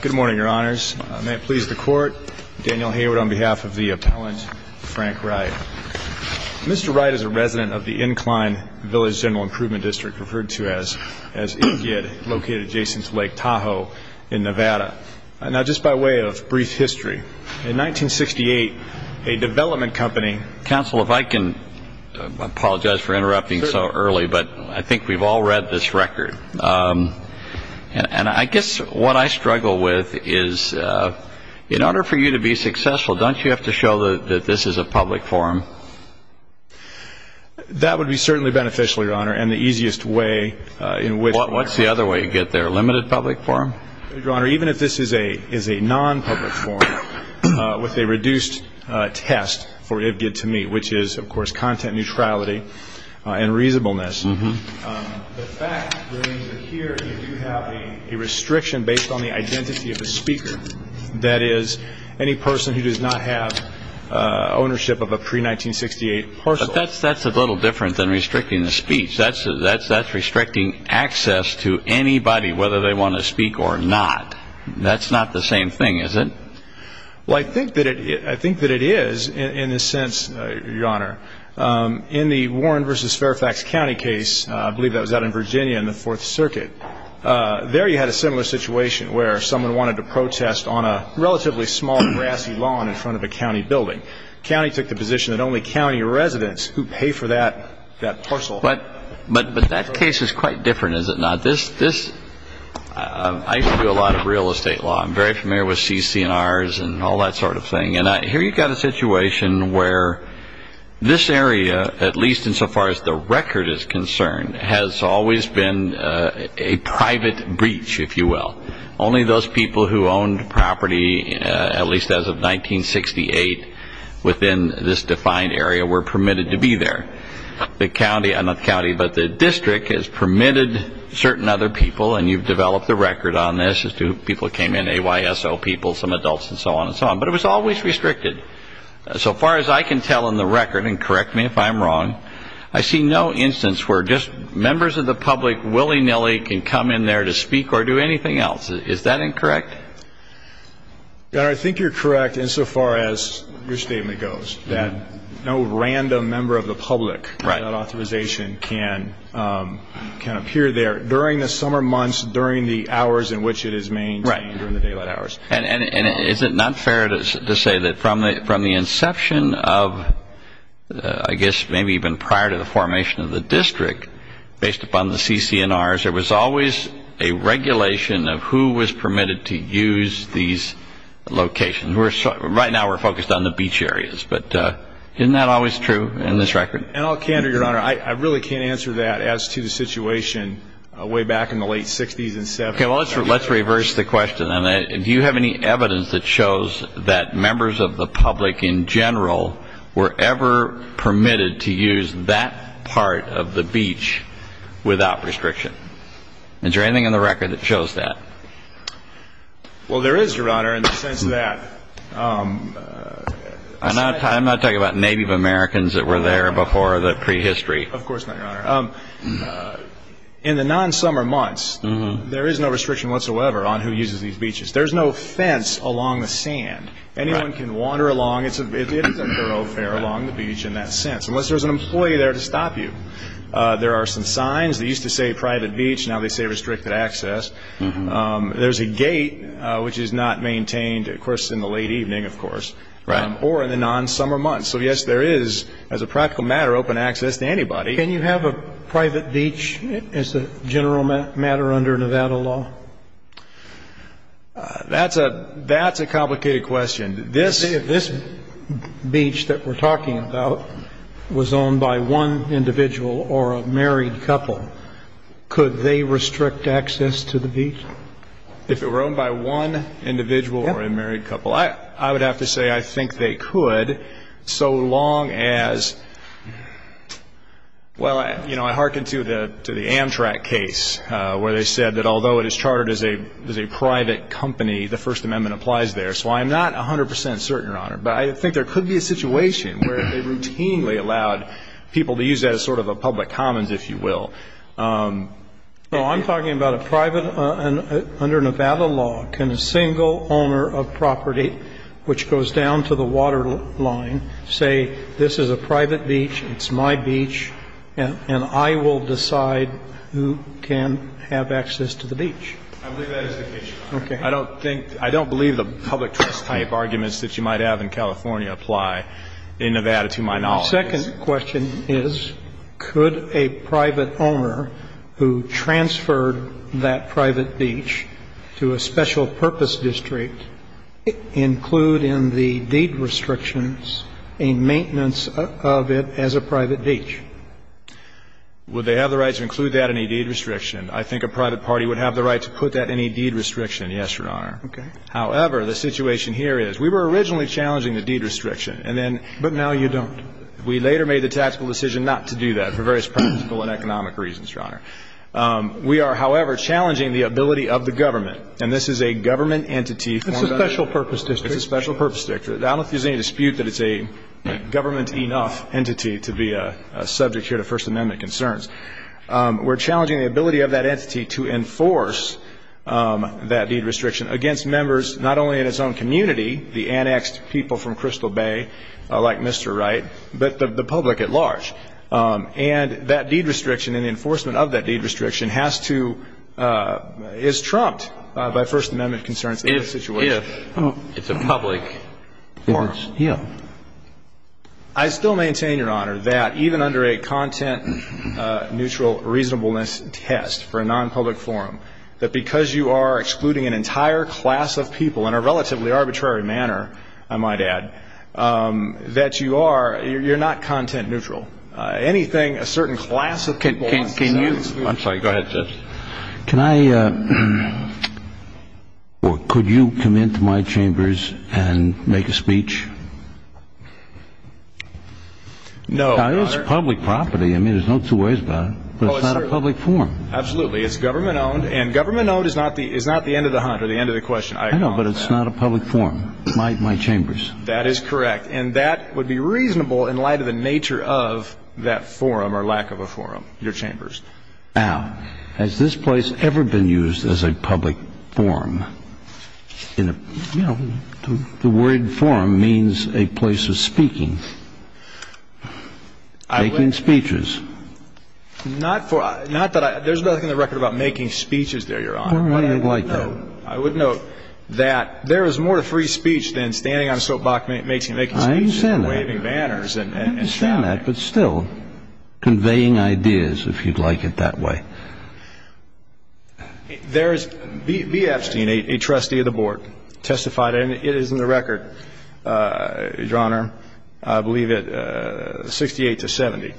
Good morning, your honors. May it please the court, Daniel Hayward on behalf of the appellant Frank Wright. Mr. Wright is a resident of the Incline Village General Improvement District, referred to as ICID, located adjacent to Lake Tahoe in Nevada. Now just by way of brief history, in 1968, a development company Counsel, if I can apologize for interrupting so early, but I think we've all read this record. And I guess what I struggle with is, in order for you to be successful, don't you have to show that this is a public forum? That would be certainly beneficial, your honor, and the easiest way in which What's the other way to get there, a limited public forum? Your honor, even if this is a non-public forum, with a reduced test for IBGTME, which is of course content neutrality and reasonableness, the fact remains that here you do have a restriction based on the identity of the speaker. That is, any person who does not have ownership of a pre-1968 parcel. But that's a little different than restricting the speech. That's restricting access to anybody, whether they want to speak or not. That's not the same thing, is it? Well, I think that it is, in a sense, your honor. In the Warren v. Fairfax County case, I believe that was out in Virginia in the Fourth Circuit, there you had a similar situation where someone wanted to protest on a relatively small grassy lawn in front of a county building. The county took the position that only county residents who pay for that parcel. But that case is quite different, is it not? I used to do a lot of real estate law. I'm very familiar with CC&Rs and all that sort of thing. And here you've got a situation where this area, at least insofar as the record is concerned, has always been a private breach, if you will. Only those people who owned property, at least as of 1968, within this defined area were permitted to be there. The county, not the county, but the district has permitted certain other people, and you've developed a record on this as to who people came in, AYSO people, some adults, and so on and so on. But it was always restricted. So far as I can tell in the record, and correct me if I'm wrong, I see no instance where just members of the public willy-nilly can come in there to speak or do anything else. Is that incorrect? I think you're correct insofar as your statement goes, that no random member of the public without authorization can appear there during the summer months, during the hours in which it is maintained, during the daylight hours. And is it not fair to say that from the inception of, I guess maybe even prior to the formation of the district, based upon the CCNRs, there was always a regulation of who was permitted to use these locations. Right now we're focused on the beach areas. But isn't that always true in this record? And I'll canter, Your Honor. I really can't answer that as to the situation way back in the late 60s and 70s. Okay. Well, let's reverse the question then. Do you have any evidence that shows that members of the public in general were ever permitted to use that part of the beach without restriction? Is there anything in the record that shows that? Well, there is, Your Honor, in the sense that... I'm not talking about Native Americans that were there before the prehistory. Of course not, Your Honor. In the non-summer months, there is no restriction whatsoever on who uses these beaches. There's no fence along the sand. Anyone can wander along. It isn't a thoroughfare along the beach in that sense, unless there's an employee there to stop you. There are some signs. They used to say private beach. Now they say restricted access. There's a gate, which is not maintained, of course, in the late evening, of course, or in the non-summer months. So, yes, there is, as a practical matter, open access to anybody. Can you have a private beach as a general matter under Nevada law? That's a complicated question. If this beach that we're talking about was owned by one individual or a married couple, could they restrict access to the beach? If it were owned by one individual or a married couple? I would have to say I think they could, so long as, well, I hearken to the Amtrak case, where they said that although it is chartered as a private company, the First Amendment applies there. So I'm not 100 percent certain, Your Honor. But I think there could be a situation where they routinely allowed people to use that as sort of a public commons, if you will. So I'm talking about a private, under Nevada law, can a single owner of property, which goes down to the waterline, say this is a private beach, it's my beach, and I will decide who can have access to the beach? I believe that is the case, Your Honor. Okay. I don't think, I don't believe the public trust type arguments that you might have in California apply in Nevada to my knowledge. My second question is, could a private owner who transferred that private beach to a special purpose district include in the deed restrictions a maintenance of it as a private beach? Would they have the right to include that in a deed restriction? I think a private party would have the right to put that in a deed restriction, yes, Your Honor. Okay. However, the situation here is we were originally challenging the deed restriction, and then ---- we later made the tactical decision not to do that for various practical and economic reasons, Your Honor. We are, however, challenging the ability of the government, and this is a government entity formed under ---- It's a special purpose district. It's a special purpose district. I don't think there's any dispute that it's a government enough entity to be a subject here to First Amendment concerns. We're challenging the ability of that entity to enforce that deed restriction against members not only in its own community, the annexed people from Crystal Bay like Mr. Wright, but the public at large. And that deed restriction and the enforcement of that deed restriction has to ---- is trumped by First Amendment concerns. If it's a public forum. Yeah. I still maintain, Your Honor, that even under a content neutral reasonableness test for a nonpublic forum, that because you are excluding an entire class of people in a relatively arbitrary manner, I might add, that you are ---- you're not content neutral. Anything a certain class of people ---- Can you ---- I'm sorry. Go ahead, Jeff. Can I ---- or could you come into my chambers and make a speech? No, Your Honor. It's public property. I mean, there's no two ways about it, but it's not a public forum. Absolutely. It's government-owned, and government-owned is not the end of the hunt or the end of the question. I know, but it's not a public forum. It's my chambers. That is correct. And that would be reasonable in light of the nature of that forum or lack of a forum, your chambers. Now, has this place ever been used as a public forum? You know, the word forum means a place of speaking, making speeches. Not for ---- not that I ---- there's nothing in the record about making speeches there, Your Honor. Well, I wouldn't like that. I would note that there is more to free speech than standing on a soapbox and making speeches. I understand that. And waving banners and shouting. I understand that, but still, conveying ideas, if you'd like it that way. There is ---- B. Epstein, a trustee of the Board, testified, and it is in the record, Your Honor, I believe at 68 to 70.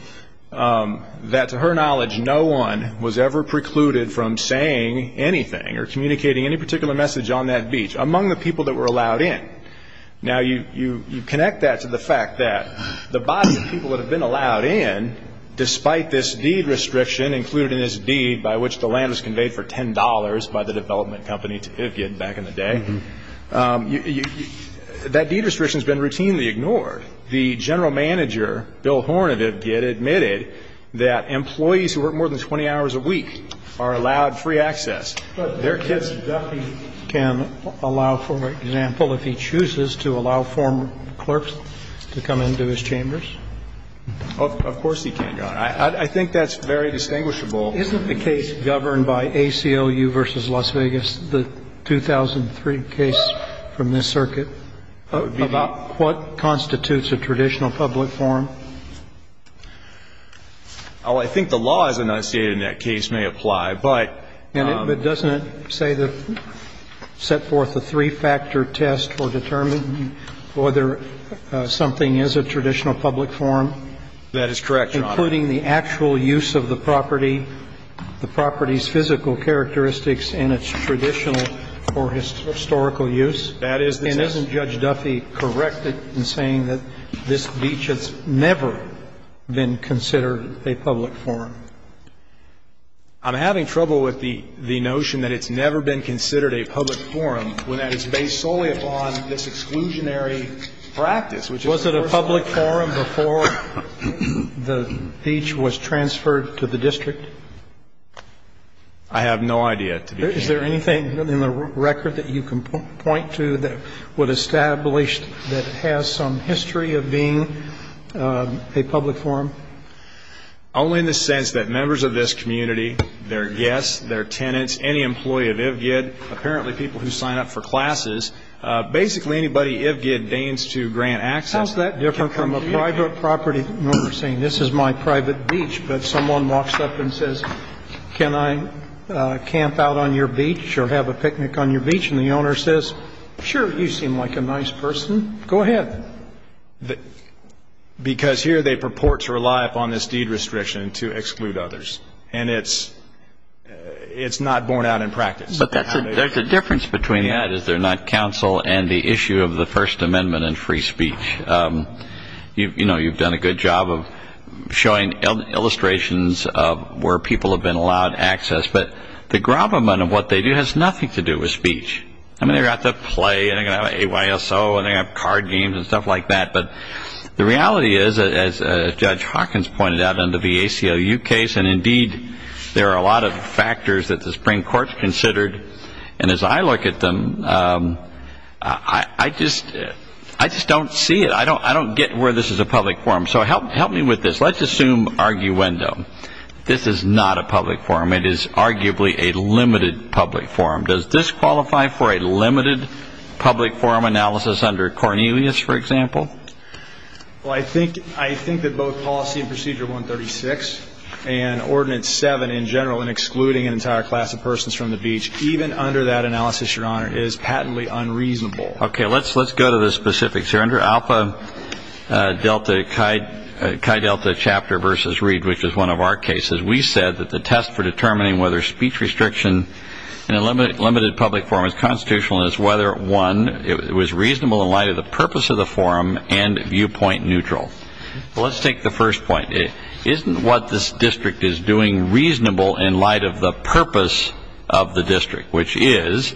That to her knowledge, no one was ever precluded from saying anything or communicating any particular message on that beach among the people that were allowed in. Now, you connect that to the fact that the body of people that have been allowed in, despite this deed restriction included in this deed by which the land was conveyed for $10 by the development company to Ivgid back in the day, that deed restriction has been routinely ignored. The general manager, Bill Horn of Ivgid, admitted that employees who work more than 20 hours a week are allowed free access. But their kids definitely can allow, for example, if he chooses, to allow former clerks to come into his chambers? Of course he can, Your Honor. I think that's very distinguishable. Isn't the case governed by ACLU v. Las Vegas, the 2003 case from this circuit, about what constitutes a traditional public forum? Oh, I think the laws enunciated in that case may apply, but — But doesn't it say that set forth a three-factor test for determining whether something is a traditional public forum? That is correct, Your Honor. Including the actual use of the property, the property's physical characteristics and its traditional or historical use? That is the case. And isn't Judge Duffy correct in saying that this beach has never been considered a public forum? I'm having trouble with the notion that it's never been considered a public forum when that is based solely upon this exclusionary practice, which is the first one. Was it a public forum before the beach was transferred to the district? I have no idea. Is there anything in the record that you can point to that would establish that it has some history of being a public forum? Only in the sense that members of this community, their guests, their tenants, any employee of IVGID, apparently people who sign up for classes, basically anybody IVGID deigns to grant access. How's that different from a private property owner saying, this is my private beach, but someone walks up and says, can I camp out on your beach or have a picnic on your beach? And the owner says, sure, you seem like a nice person. Go ahead. Because here they purport to rely upon this deed restriction to exclude others. And it's not borne out in practice. But there's a difference between that, is there not, counsel, and the issue of the First Amendment and free speech. You know, you've done a good job of showing illustrations of where people have been allowed access. But the gravamen of what they do has nothing to do with speech. I mean, they've got the play and they've got AYSO and they've got card games and stuff like that. But the reality is, as Judge Hawkins pointed out in the VACOU case, and indeed there are a lot of factors that the Supreme Court considered. And as I look at them, I just don't see it. I don't get where this is a public forum. So help me with this. Let's assume arguendo. This is not a public forum. It is arguably a limited public forum. Does this qualify for a limited public forum analysis under Cornelius, for example? Well, I think that both Policy and Procedure 136 and Ordinance 7 in general in excluding an even under that analysis, Your Honor, is patently unreasonable. Okay, let's go to the specifics here. Under Alpha Delta Chi Delta Chapter versus Reed, which is one of our cases, we said that the test for determining whether speech restriction in a limited public forum is constitutional is whether, one, it was reasonable in light of the purpose of the forum and viewpoint neutral. Well, let's take the first point. Isn't what this district is doing reasonable in light of the purpose of the district, which is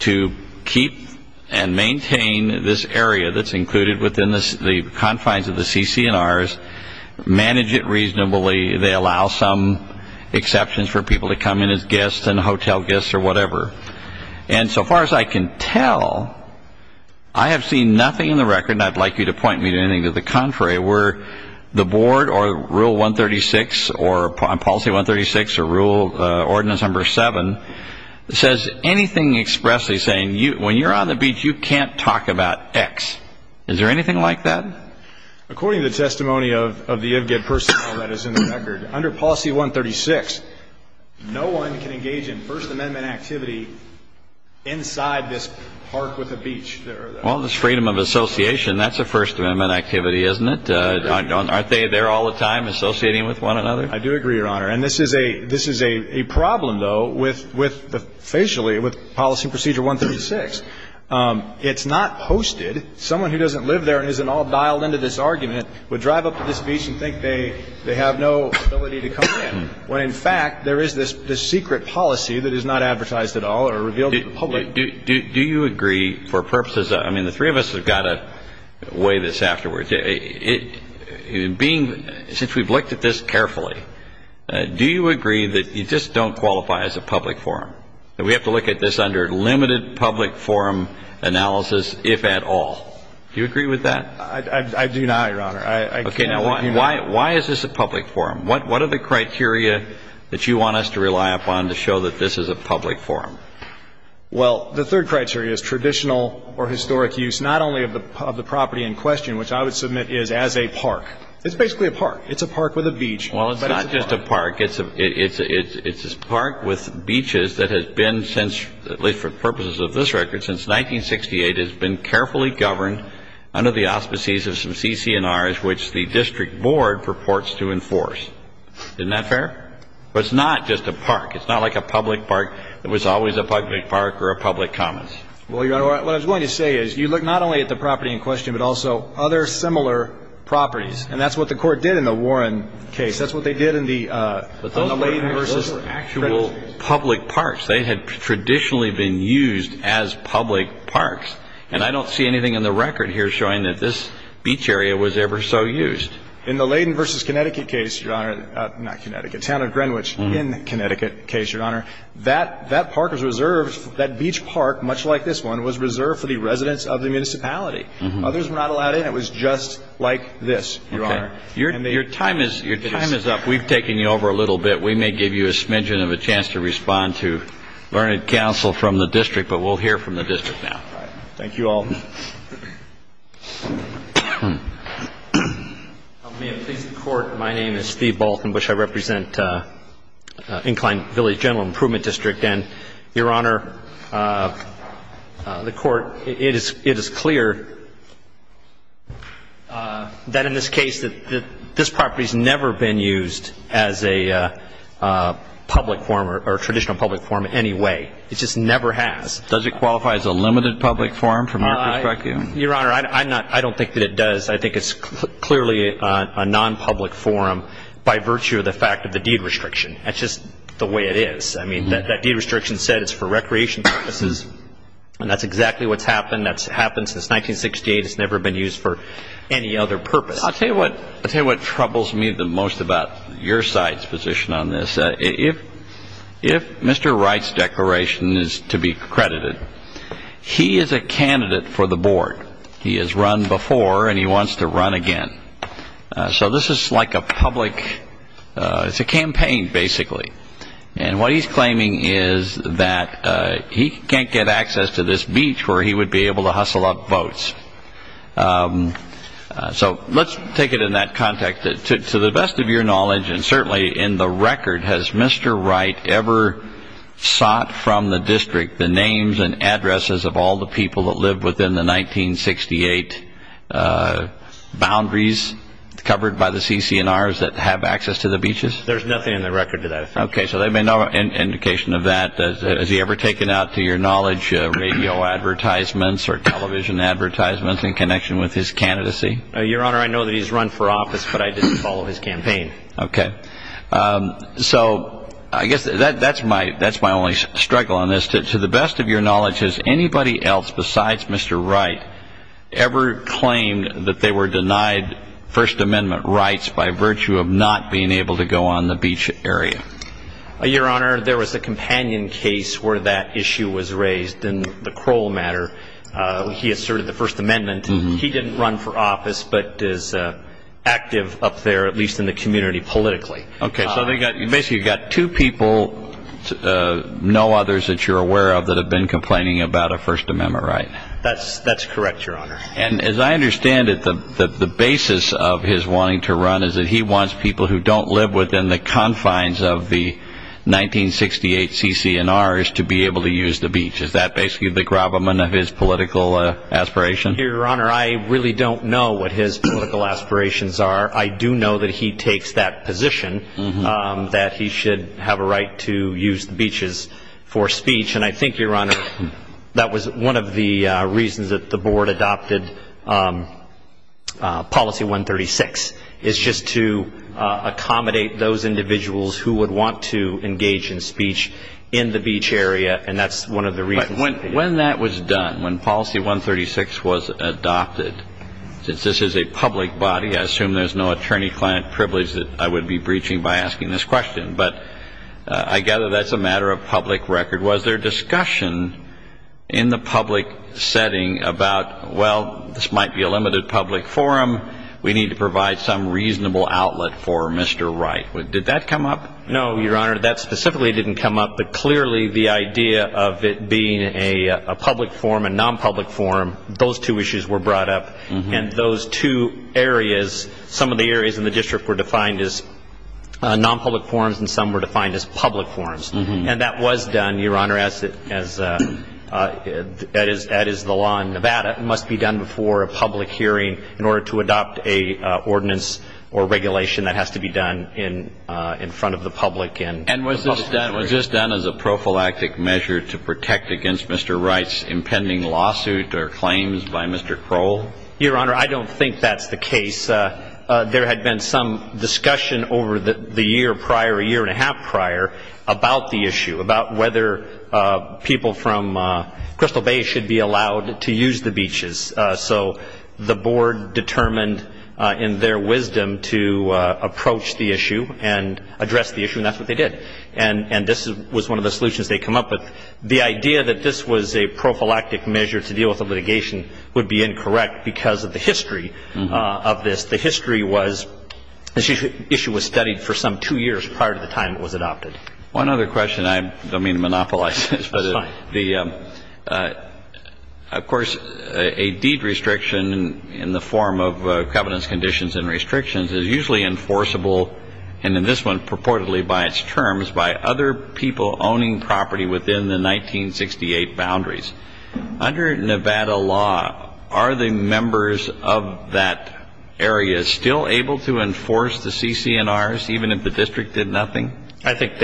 to keep and maintain this area that's included within the confines of the CC&Rs, manage it reasonably. They allow some exceptions for people to come in as guests and hotel guests or whatever. And so far as I can tell, I have seen nothing in the record, and I'd like you to point me to anything to the contrary where the Board or Rule 136 or Policy 136 or Ordinance 7 says anything expressly, saying when you're on the beach, you can't talk about X. Is there anything like that? According to the testimony of the IVGAD personnel, that is in the record. Under Policy 136, no one can engage in First Amendment activity inside this park with a beach. Well, it's freedom of association. That's a First Amendment activity, isn't it? Aren't they there all the time, associating with one another? I do agree, Your Honor. And this is a problem, though, with the facially, with Policy Procedure 136. It's not posted. Someone who doesn't live there and isn't at all dialed into this argument would drive up to this beach and think they have no ability to come in, when in fact there is this secret policy that is not advertised at all or revealed to the public. Do you agree, for purposes of – I mean, the three of us have got to weigh this afterwards. Being – since we've looked at this carefully, do you agree that you just don't qualify as a public forum, that we have to look at this under limited public forum analysis, if at all? Do you agree with that? I do not, Your Honor. Okay. Now, why is this a public forum? What are the criteria that you want us to rely upon to show that this is a public forum? Well, the third criteria is traditional or historic use not only of the property in question, which I would submit is as a park. It's basically a park. It's a park with a beach. Well, it's not just a park. It's a park with beaches that has been since – at least for purposes of this record – since 1968, has been carefully governed under the auspices of some CC&Rs which the district board purports to enforce. Isn't that fair? But it's not just a park. It's not like a public park that was always a public park or a public commons. Well, Your Honor, what I was going to say is you look not only at the property in question, but also other similar properties. And that's what the Court did in the Warren case. That's what they did in the Layden versus Connecticut case. Those were actual public parks. They had traditionally been used as public parks. And I don't see anything in the record here showing that this beach area was ever so used. In the Layden versus Connecticut case, Your Honor – not Connecticut, Town of Greenwich in Connecticut case, Your Honor, that park was reserved – that beach park, much like this one, was reserved for the residents of the municipality. Others were not allowed in. It was just like this, Your Honor. Your time is up. We've taken you over a little bit. We may give you a smidgen of a chance to respond to learned counsel from the district, but we'll hear from the district now. Thank you all. May it please the Court, my name is Steve Baltin. I represent Incline Village General Improvement District. And, Your Honor, the Court – it is clear that in this case that this property has never been used as a public form or a traditional public form in any way. It just never has. Does it qualify as a limited public form from our perspective? Your Honor, I'm not – I don't think that it does. I think it's clearly a non-public form by virtue of the fact of the deed restriction. That's just the way it is. I mean, that deed restriction said it's for recreation purposes, and that's exactly what's happened. That's happened since 1968. It's never been used for any other purpose. I'll tell you what troubles me the most about your side's position on this. If Mr. Wright's declaration is to be credited, he is a candidate for the board. He has run before, and he wants to run again. So this is like a public – it's a campaign, basically. And what he's claiming is that he can't get access to this beach where he would be able to hustle up votes. So let's take it in that context. To the best of your knowledge, and certainly in the record, has Mr. Wright ever sought from the district the names and addresses of all the people that lived within the 1968 boundaries covered by the CC&Rs that have access to the beaches? There's nothing in the record that I've found. Okay. So there may be no indication of that. Has he ever taken out, to your knowledge, radio advertisements or television advertisements in connection with his candidacy? Your Honor, I know that he's run for office, but I didn't follow his campaign. Okay. So I guess that's my only struggle on this. To the best of your knowledge, has anybody else besides Mr. Wright ever claimed that they were denied First Amendment rights by virtue of not being able to go on the beach area? Your Honor, there was a companion case where that issue was raised in the Crowell matter. He asserted the First Amendment. He didn't run for office but is active up there, at least in the community, politically. Okay. So basically you've got two people, no others that you're aware of, that have been complaining about a First Amendment right? That's correct, Your Honor. And as I understand it, the basis of his wanting to run is that he wants people who don't live within the confines of the 1968 CC&Rs to be able to use the beach. Is that basically the gravamen of his political aspiration? Your Honor, I really don't know what his political aspirations are. I do know that he takes that position, that he should have a right to use the beaches for speech. And I think, Your Honor, that was one of the reasons that the board adopted Policy 136, is just to accommodate those individuals who would want to engage in speech in the beach area. And that's one of the reasons. When that was done, when Policy 136 was adopted, since this is a public body, I assume there's no attorney-client privilege that I would be breaching by asking this question. But I gather that's a matter of public record. Was there discussion in the public setting about, well, this might be a limited public forum. We need to provide some reasonable outlet for Mr. Wright. Did that come up? No, Your Honor. That specifically didn't come up. But clearly the idea of it being a public forum, a non-public forum, those two issues were brought up. And those two areas, some of the areas in the district were defined as non-public forums and some were defined as public forums. And that was done, Your Honor, as is the law in Nevada. It must be done before a public hearing in order to adopt an ordinance or regulation that has to be done in front of the public. And was this done as a prophylactic measure to protect against Mr. Wright's impending lawsuit or claims by Mr. Crowell? Your Honor, I don't think that's the case. There had been some discussion over the year prior, a year and a half prior, about the issue, about whether people from Crystal Bay should be allowed to use the beaches. So the board determined in their wisdom to approach the issue and address the issue, and that's what they did. And this was one of the solutions they came up with. The idea that this was a prophylactic measure to deal with the litigation would be incorrect because of the history of this. The history was this issue was studied for some two years prior to the time it was adopted. One other question. I don't mean to monopolize this. It's fine. Of course, a deed restriction in the form of covenants, conditions, and restrictions is usually enforceable, and in this one purportedly by its terms, by other people owning property within the 1968 boundaries. Under Nevada law, are the members of that area still able to enforce the CC&Rs even if the district did nothing? I think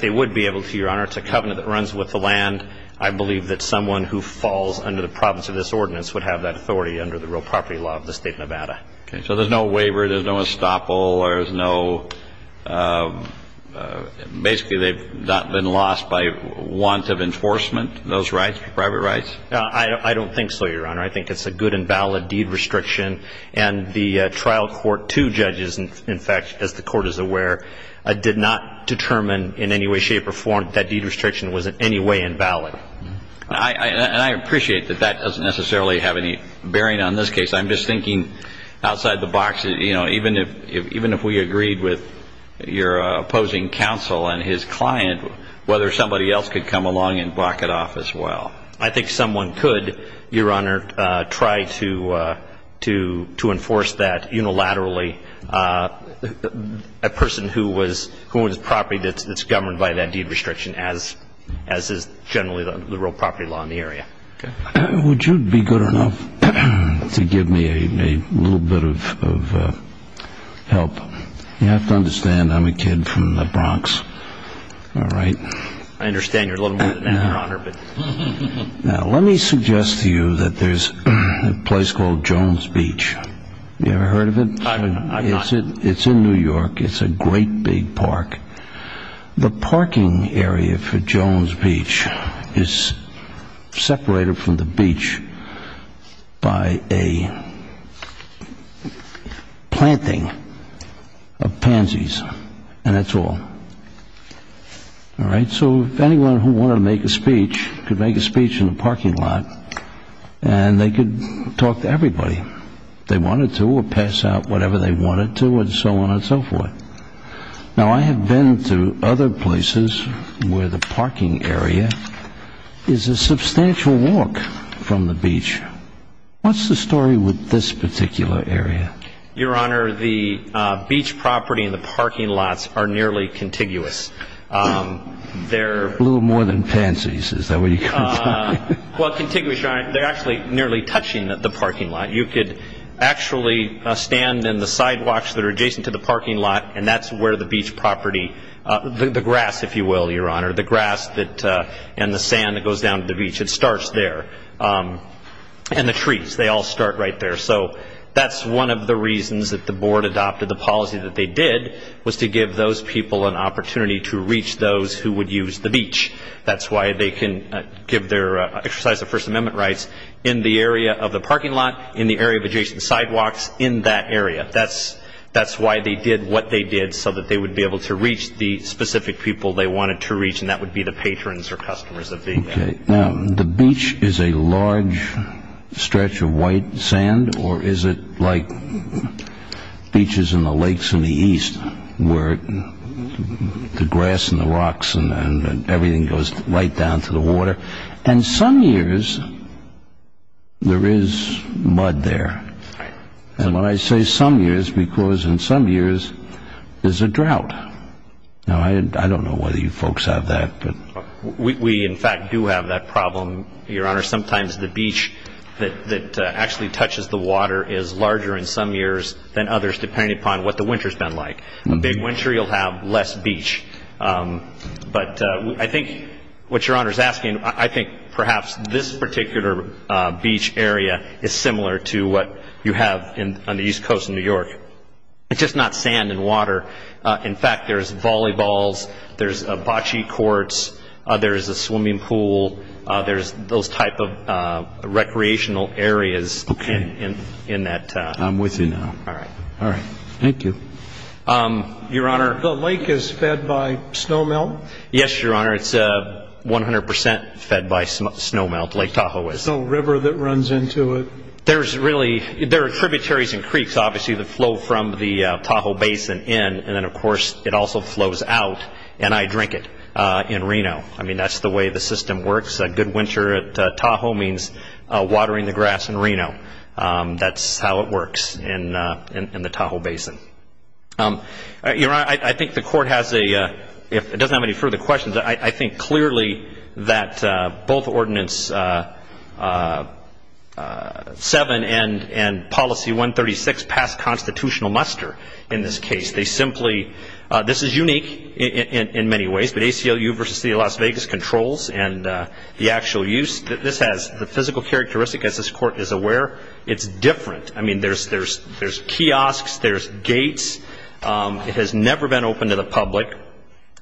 they would be able to, Your Honor. It's a covenant that runs with the land. I believe that someone who falls under the province of this ordinance would have that authority under the real property law of the state of Nevada. Okay. So there's no waiver, there's no estoppel, there's no ‑‑ basically they've not been lost by want of enforcement, those rights, private rights? I don't think so, Your Honor. I think it's a good and valid deed restriction, and the trial court, two judges, in fact, as the court is aware, did not determine in any way, shape, or form that deed restriction was in any way invalid. And I appreciate that that doesn't necessarily have any bearing on this case. I'm just thinking outside the box, you know, even if we agreed with your opposing counsel and his client, whether somebody else could come along and block it off as well. I think someone could, Your Honor, try to enforce that unilaterally. A person who owns property that's governed by that deed restriction as is generally the real property law in the area. Would you be good enough to give me a little bit of help? You have to understand I'm a kid from the Bronx. All right? I understand you're a little more than that, Your Honor. Now, let me suggest to you that there's a place called Jones Beach. You ever heard of it? I've not. It's in New York. It's a great big park. The parking area for Jones Beach is separated from the beach by a planting of pansies, and that's all. All right? So if anyone who wanted to make a speech could make a speech in the parking lot, and they could talk to everybody, they wanted to or pass out whatever they wanted to and so on and so forth. Now, I have been to other places where the parking area is a substantial walk from the beach. What's the story with this particular area? Your Honor, the beach property and the parking lots are nearly contiguous. They're a little more than pansies. Is that what you call them? Well, contiguous, Your Honor, they're actually nearly touching the parking lot. You could actually stand in the sidewalks that are adjacent to the parking lot, and that's where the beach property, the grass, if you will, Your Honor, the grass and the sand that goes down to the beach, it starts there. And the trees, they all start right there. So that's one of the reasons that the board adopted the policy that they did, was to give those people an opportunity to reach those who would use the beach. That's why they can give their exercise of First Amendment rights in the area of the parking lot, in the area of adjacent sidewalks, in that area. That's why they did what they did, so that they would be able to reach the specific people they wanted to reach, and that would be the patrons or customers of the area. Now, the beach is a large stretch of white sand, or is it like beaches in the lakes in the east, where the grass and the rocks and everything goes right down to the water? And some years, there is mud there. And when I say some years, because in some years, there's a drought. Now, I don't know whether you folks have that. We, in fact, do have that problem, Your Honor. Sometimes the beach that actually touches the water is larger in some years than others, depending upon what the winter's been like. A big winter, you'll have less beach. But I think what Your Honor's asking, I think perhaps this particular beach area is similar to what you have on the east coast of New York. It's just not sand and water. In fact, there's volleyballs. There's bocce courts. There's a swimming pool. There's those type of recreational areas in that. I'm with you now. All right. All right. Thank you. Your Honor. The lake is fed by snowmelt? Yes, Your Honor. It's 100 percent fed by snowmelt. Lake Tahoe is. There's no river that runs into it? There are tributaries and creeks, obviously, that flow from the Tahoe Basin in. And then, of course, it also flows out. And I drink it in Reno. I mean, that's the way the system works. A good winter at Tahoe means watering the grass in Reno. That's how it works in the Tahoe Basin. Your Honor, I think the court has a, if it doesn't have any further questions, I think clearly that both Ordinance 7 and Policy 136 pass constitutional muster in this case. They simply, this is unique in many ways, but ACLU versus the City of Las Vegas controls and the actual use that this has. The physical characteristic, as this Court is aware, it's different. I mean, there's kiosks, there's gates. It has never been open to the public.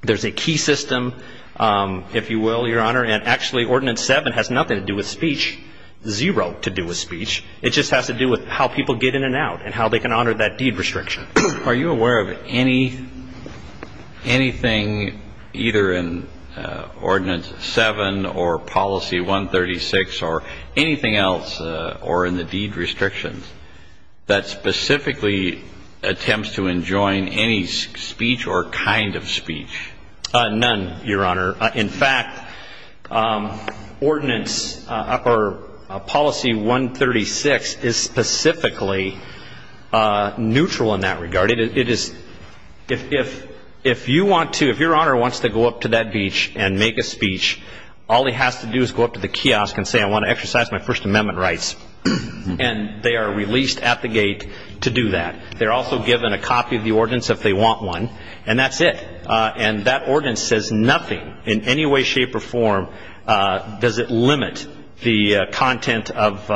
There's a key system, if you will, Your Honor. And actually, Ordinance 7 has nothing to do with speech, zero to do with speech. It just has to do with how people get in and out and how they can honor that deed restriction. Are you aware of anything either in Ordinance 7 or Policy 136 or anything else or in the deed restrictions that specifically attempts to enjoin any speech or kind of speech? None, Your Honor. In fact, ordinance or Policy 136 is specifically neutral in that regard. It is, if you want to, if Your Honor wants to go up to that beach and make a speech, all he has to do is go up to the kiosk and say, I want to exercise my First Amendment rights. And they are released at the gate to do that. They're also given a copy of the ordinance if they want one, and that's it. And that ordinance says nothing in any way, shape, or form does it limit the content of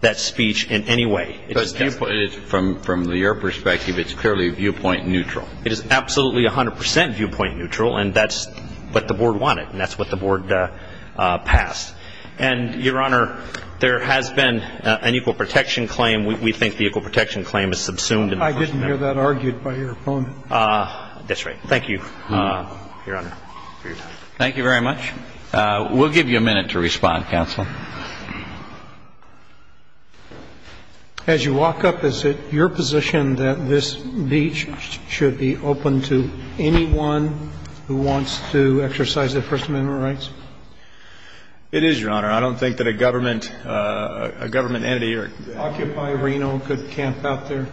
that speech in any way. It just has to. But from your perspective, it's clearly viewpoint neutral. It is absolutely 100 percent viewpoint neutral, and that's what the Board wanted, and that's what the Board passed. And, Your Honor, there has been an equal protection claim. We think the equal protection claim is subsumed in the First Amendment. I didn't hear that argued by your opponent. That's right. Thank you, Your Honor, for your time. Thank you very much. We'll give you a minute to respond, counsel. As you walk up, is it your position that this beach should be open to anyone who wants to exercise their First Amendment rights? It is, Your Honor. I don't think that a government entity or Occupy Reno could camp out there.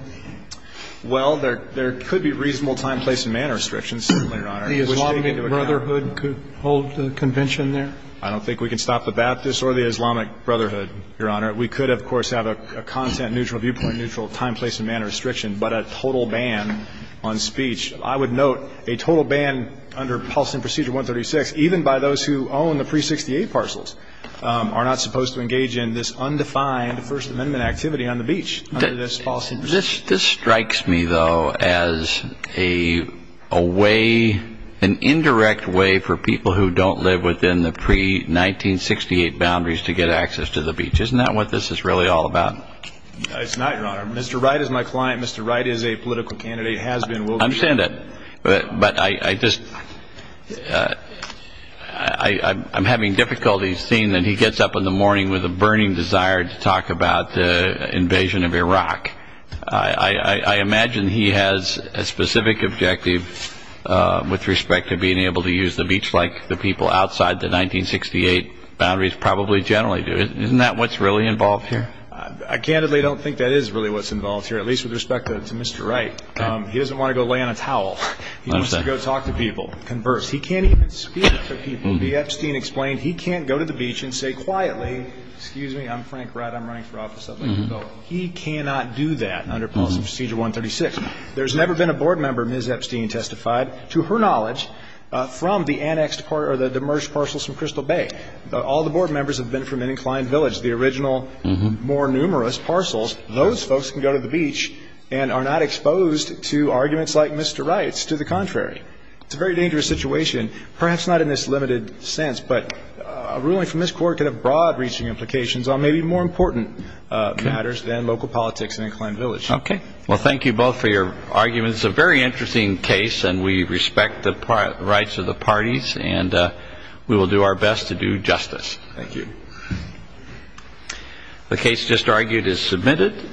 Well, there could be reasonable time, place, and manner restrictions, certainly, Your Honor. The Islamic Brotherhood could hold the convention there? I don't think we can stop the Baptists or the Islamic Brotherhood, Your Honor. We could, of course, have a content neutral, viewpoint neutral, time, place, and manner restriction, but a total ban on speech. I would note a total ban under Policy and Procedure 136, even by those who own the Pre-68 parcels, are not supposed to engage in this undefined First Amendment activity on the beach under this Policy and Procedure. This strikes me, though, as a way, an indirect way for people who don't live within the pre-1968 boundaries to get access to the beach. Isn't that what this is really all about? It's not, Your Honor. Mr. Wright is my client. Mr. Wright is a political candidate, has been, will be. I understand that, but I just, I'm having difficulties seeing that he gets up in the I imagine he has a specific objective with respect to being able to use the beach like the people outside the 1968 boundaries probably generally do. Isn't that what's really involved here? I candidly don't think that is really what's involved here, at least with respect to Mr. Wright. Okay. He doesn't want to go lay on a towel. I understand. He wants to go talk to people, converse. He can't even speak to people. The Epstein explained he can't go to the beach and say quietly, excuse me, I'm Frank Wright. I'm running for office. He cannot do that under Policy Procedure 136. There's never been a board member, Ms. Epstein testified, to her knowledge, from the annexed part or the demerged parcels from Crystal Bay. All the board members have been from Inclined Village. The original, more numerous parcels, those folks can go to the beach and are not exposed to arguments like Mr. Wright's. To the contrary, it's a very dangerous situation, perhaps not in this limited sense, but a ruling from this Court could have broad reaching implications on maybe more important matters than local politics in Inclined Village. Okay. Well, thank you both for your arguments. It's a very interesting case, and we respect the rights of the parties, and we will do our best to do justice. Thank you. The case just argued is submitted.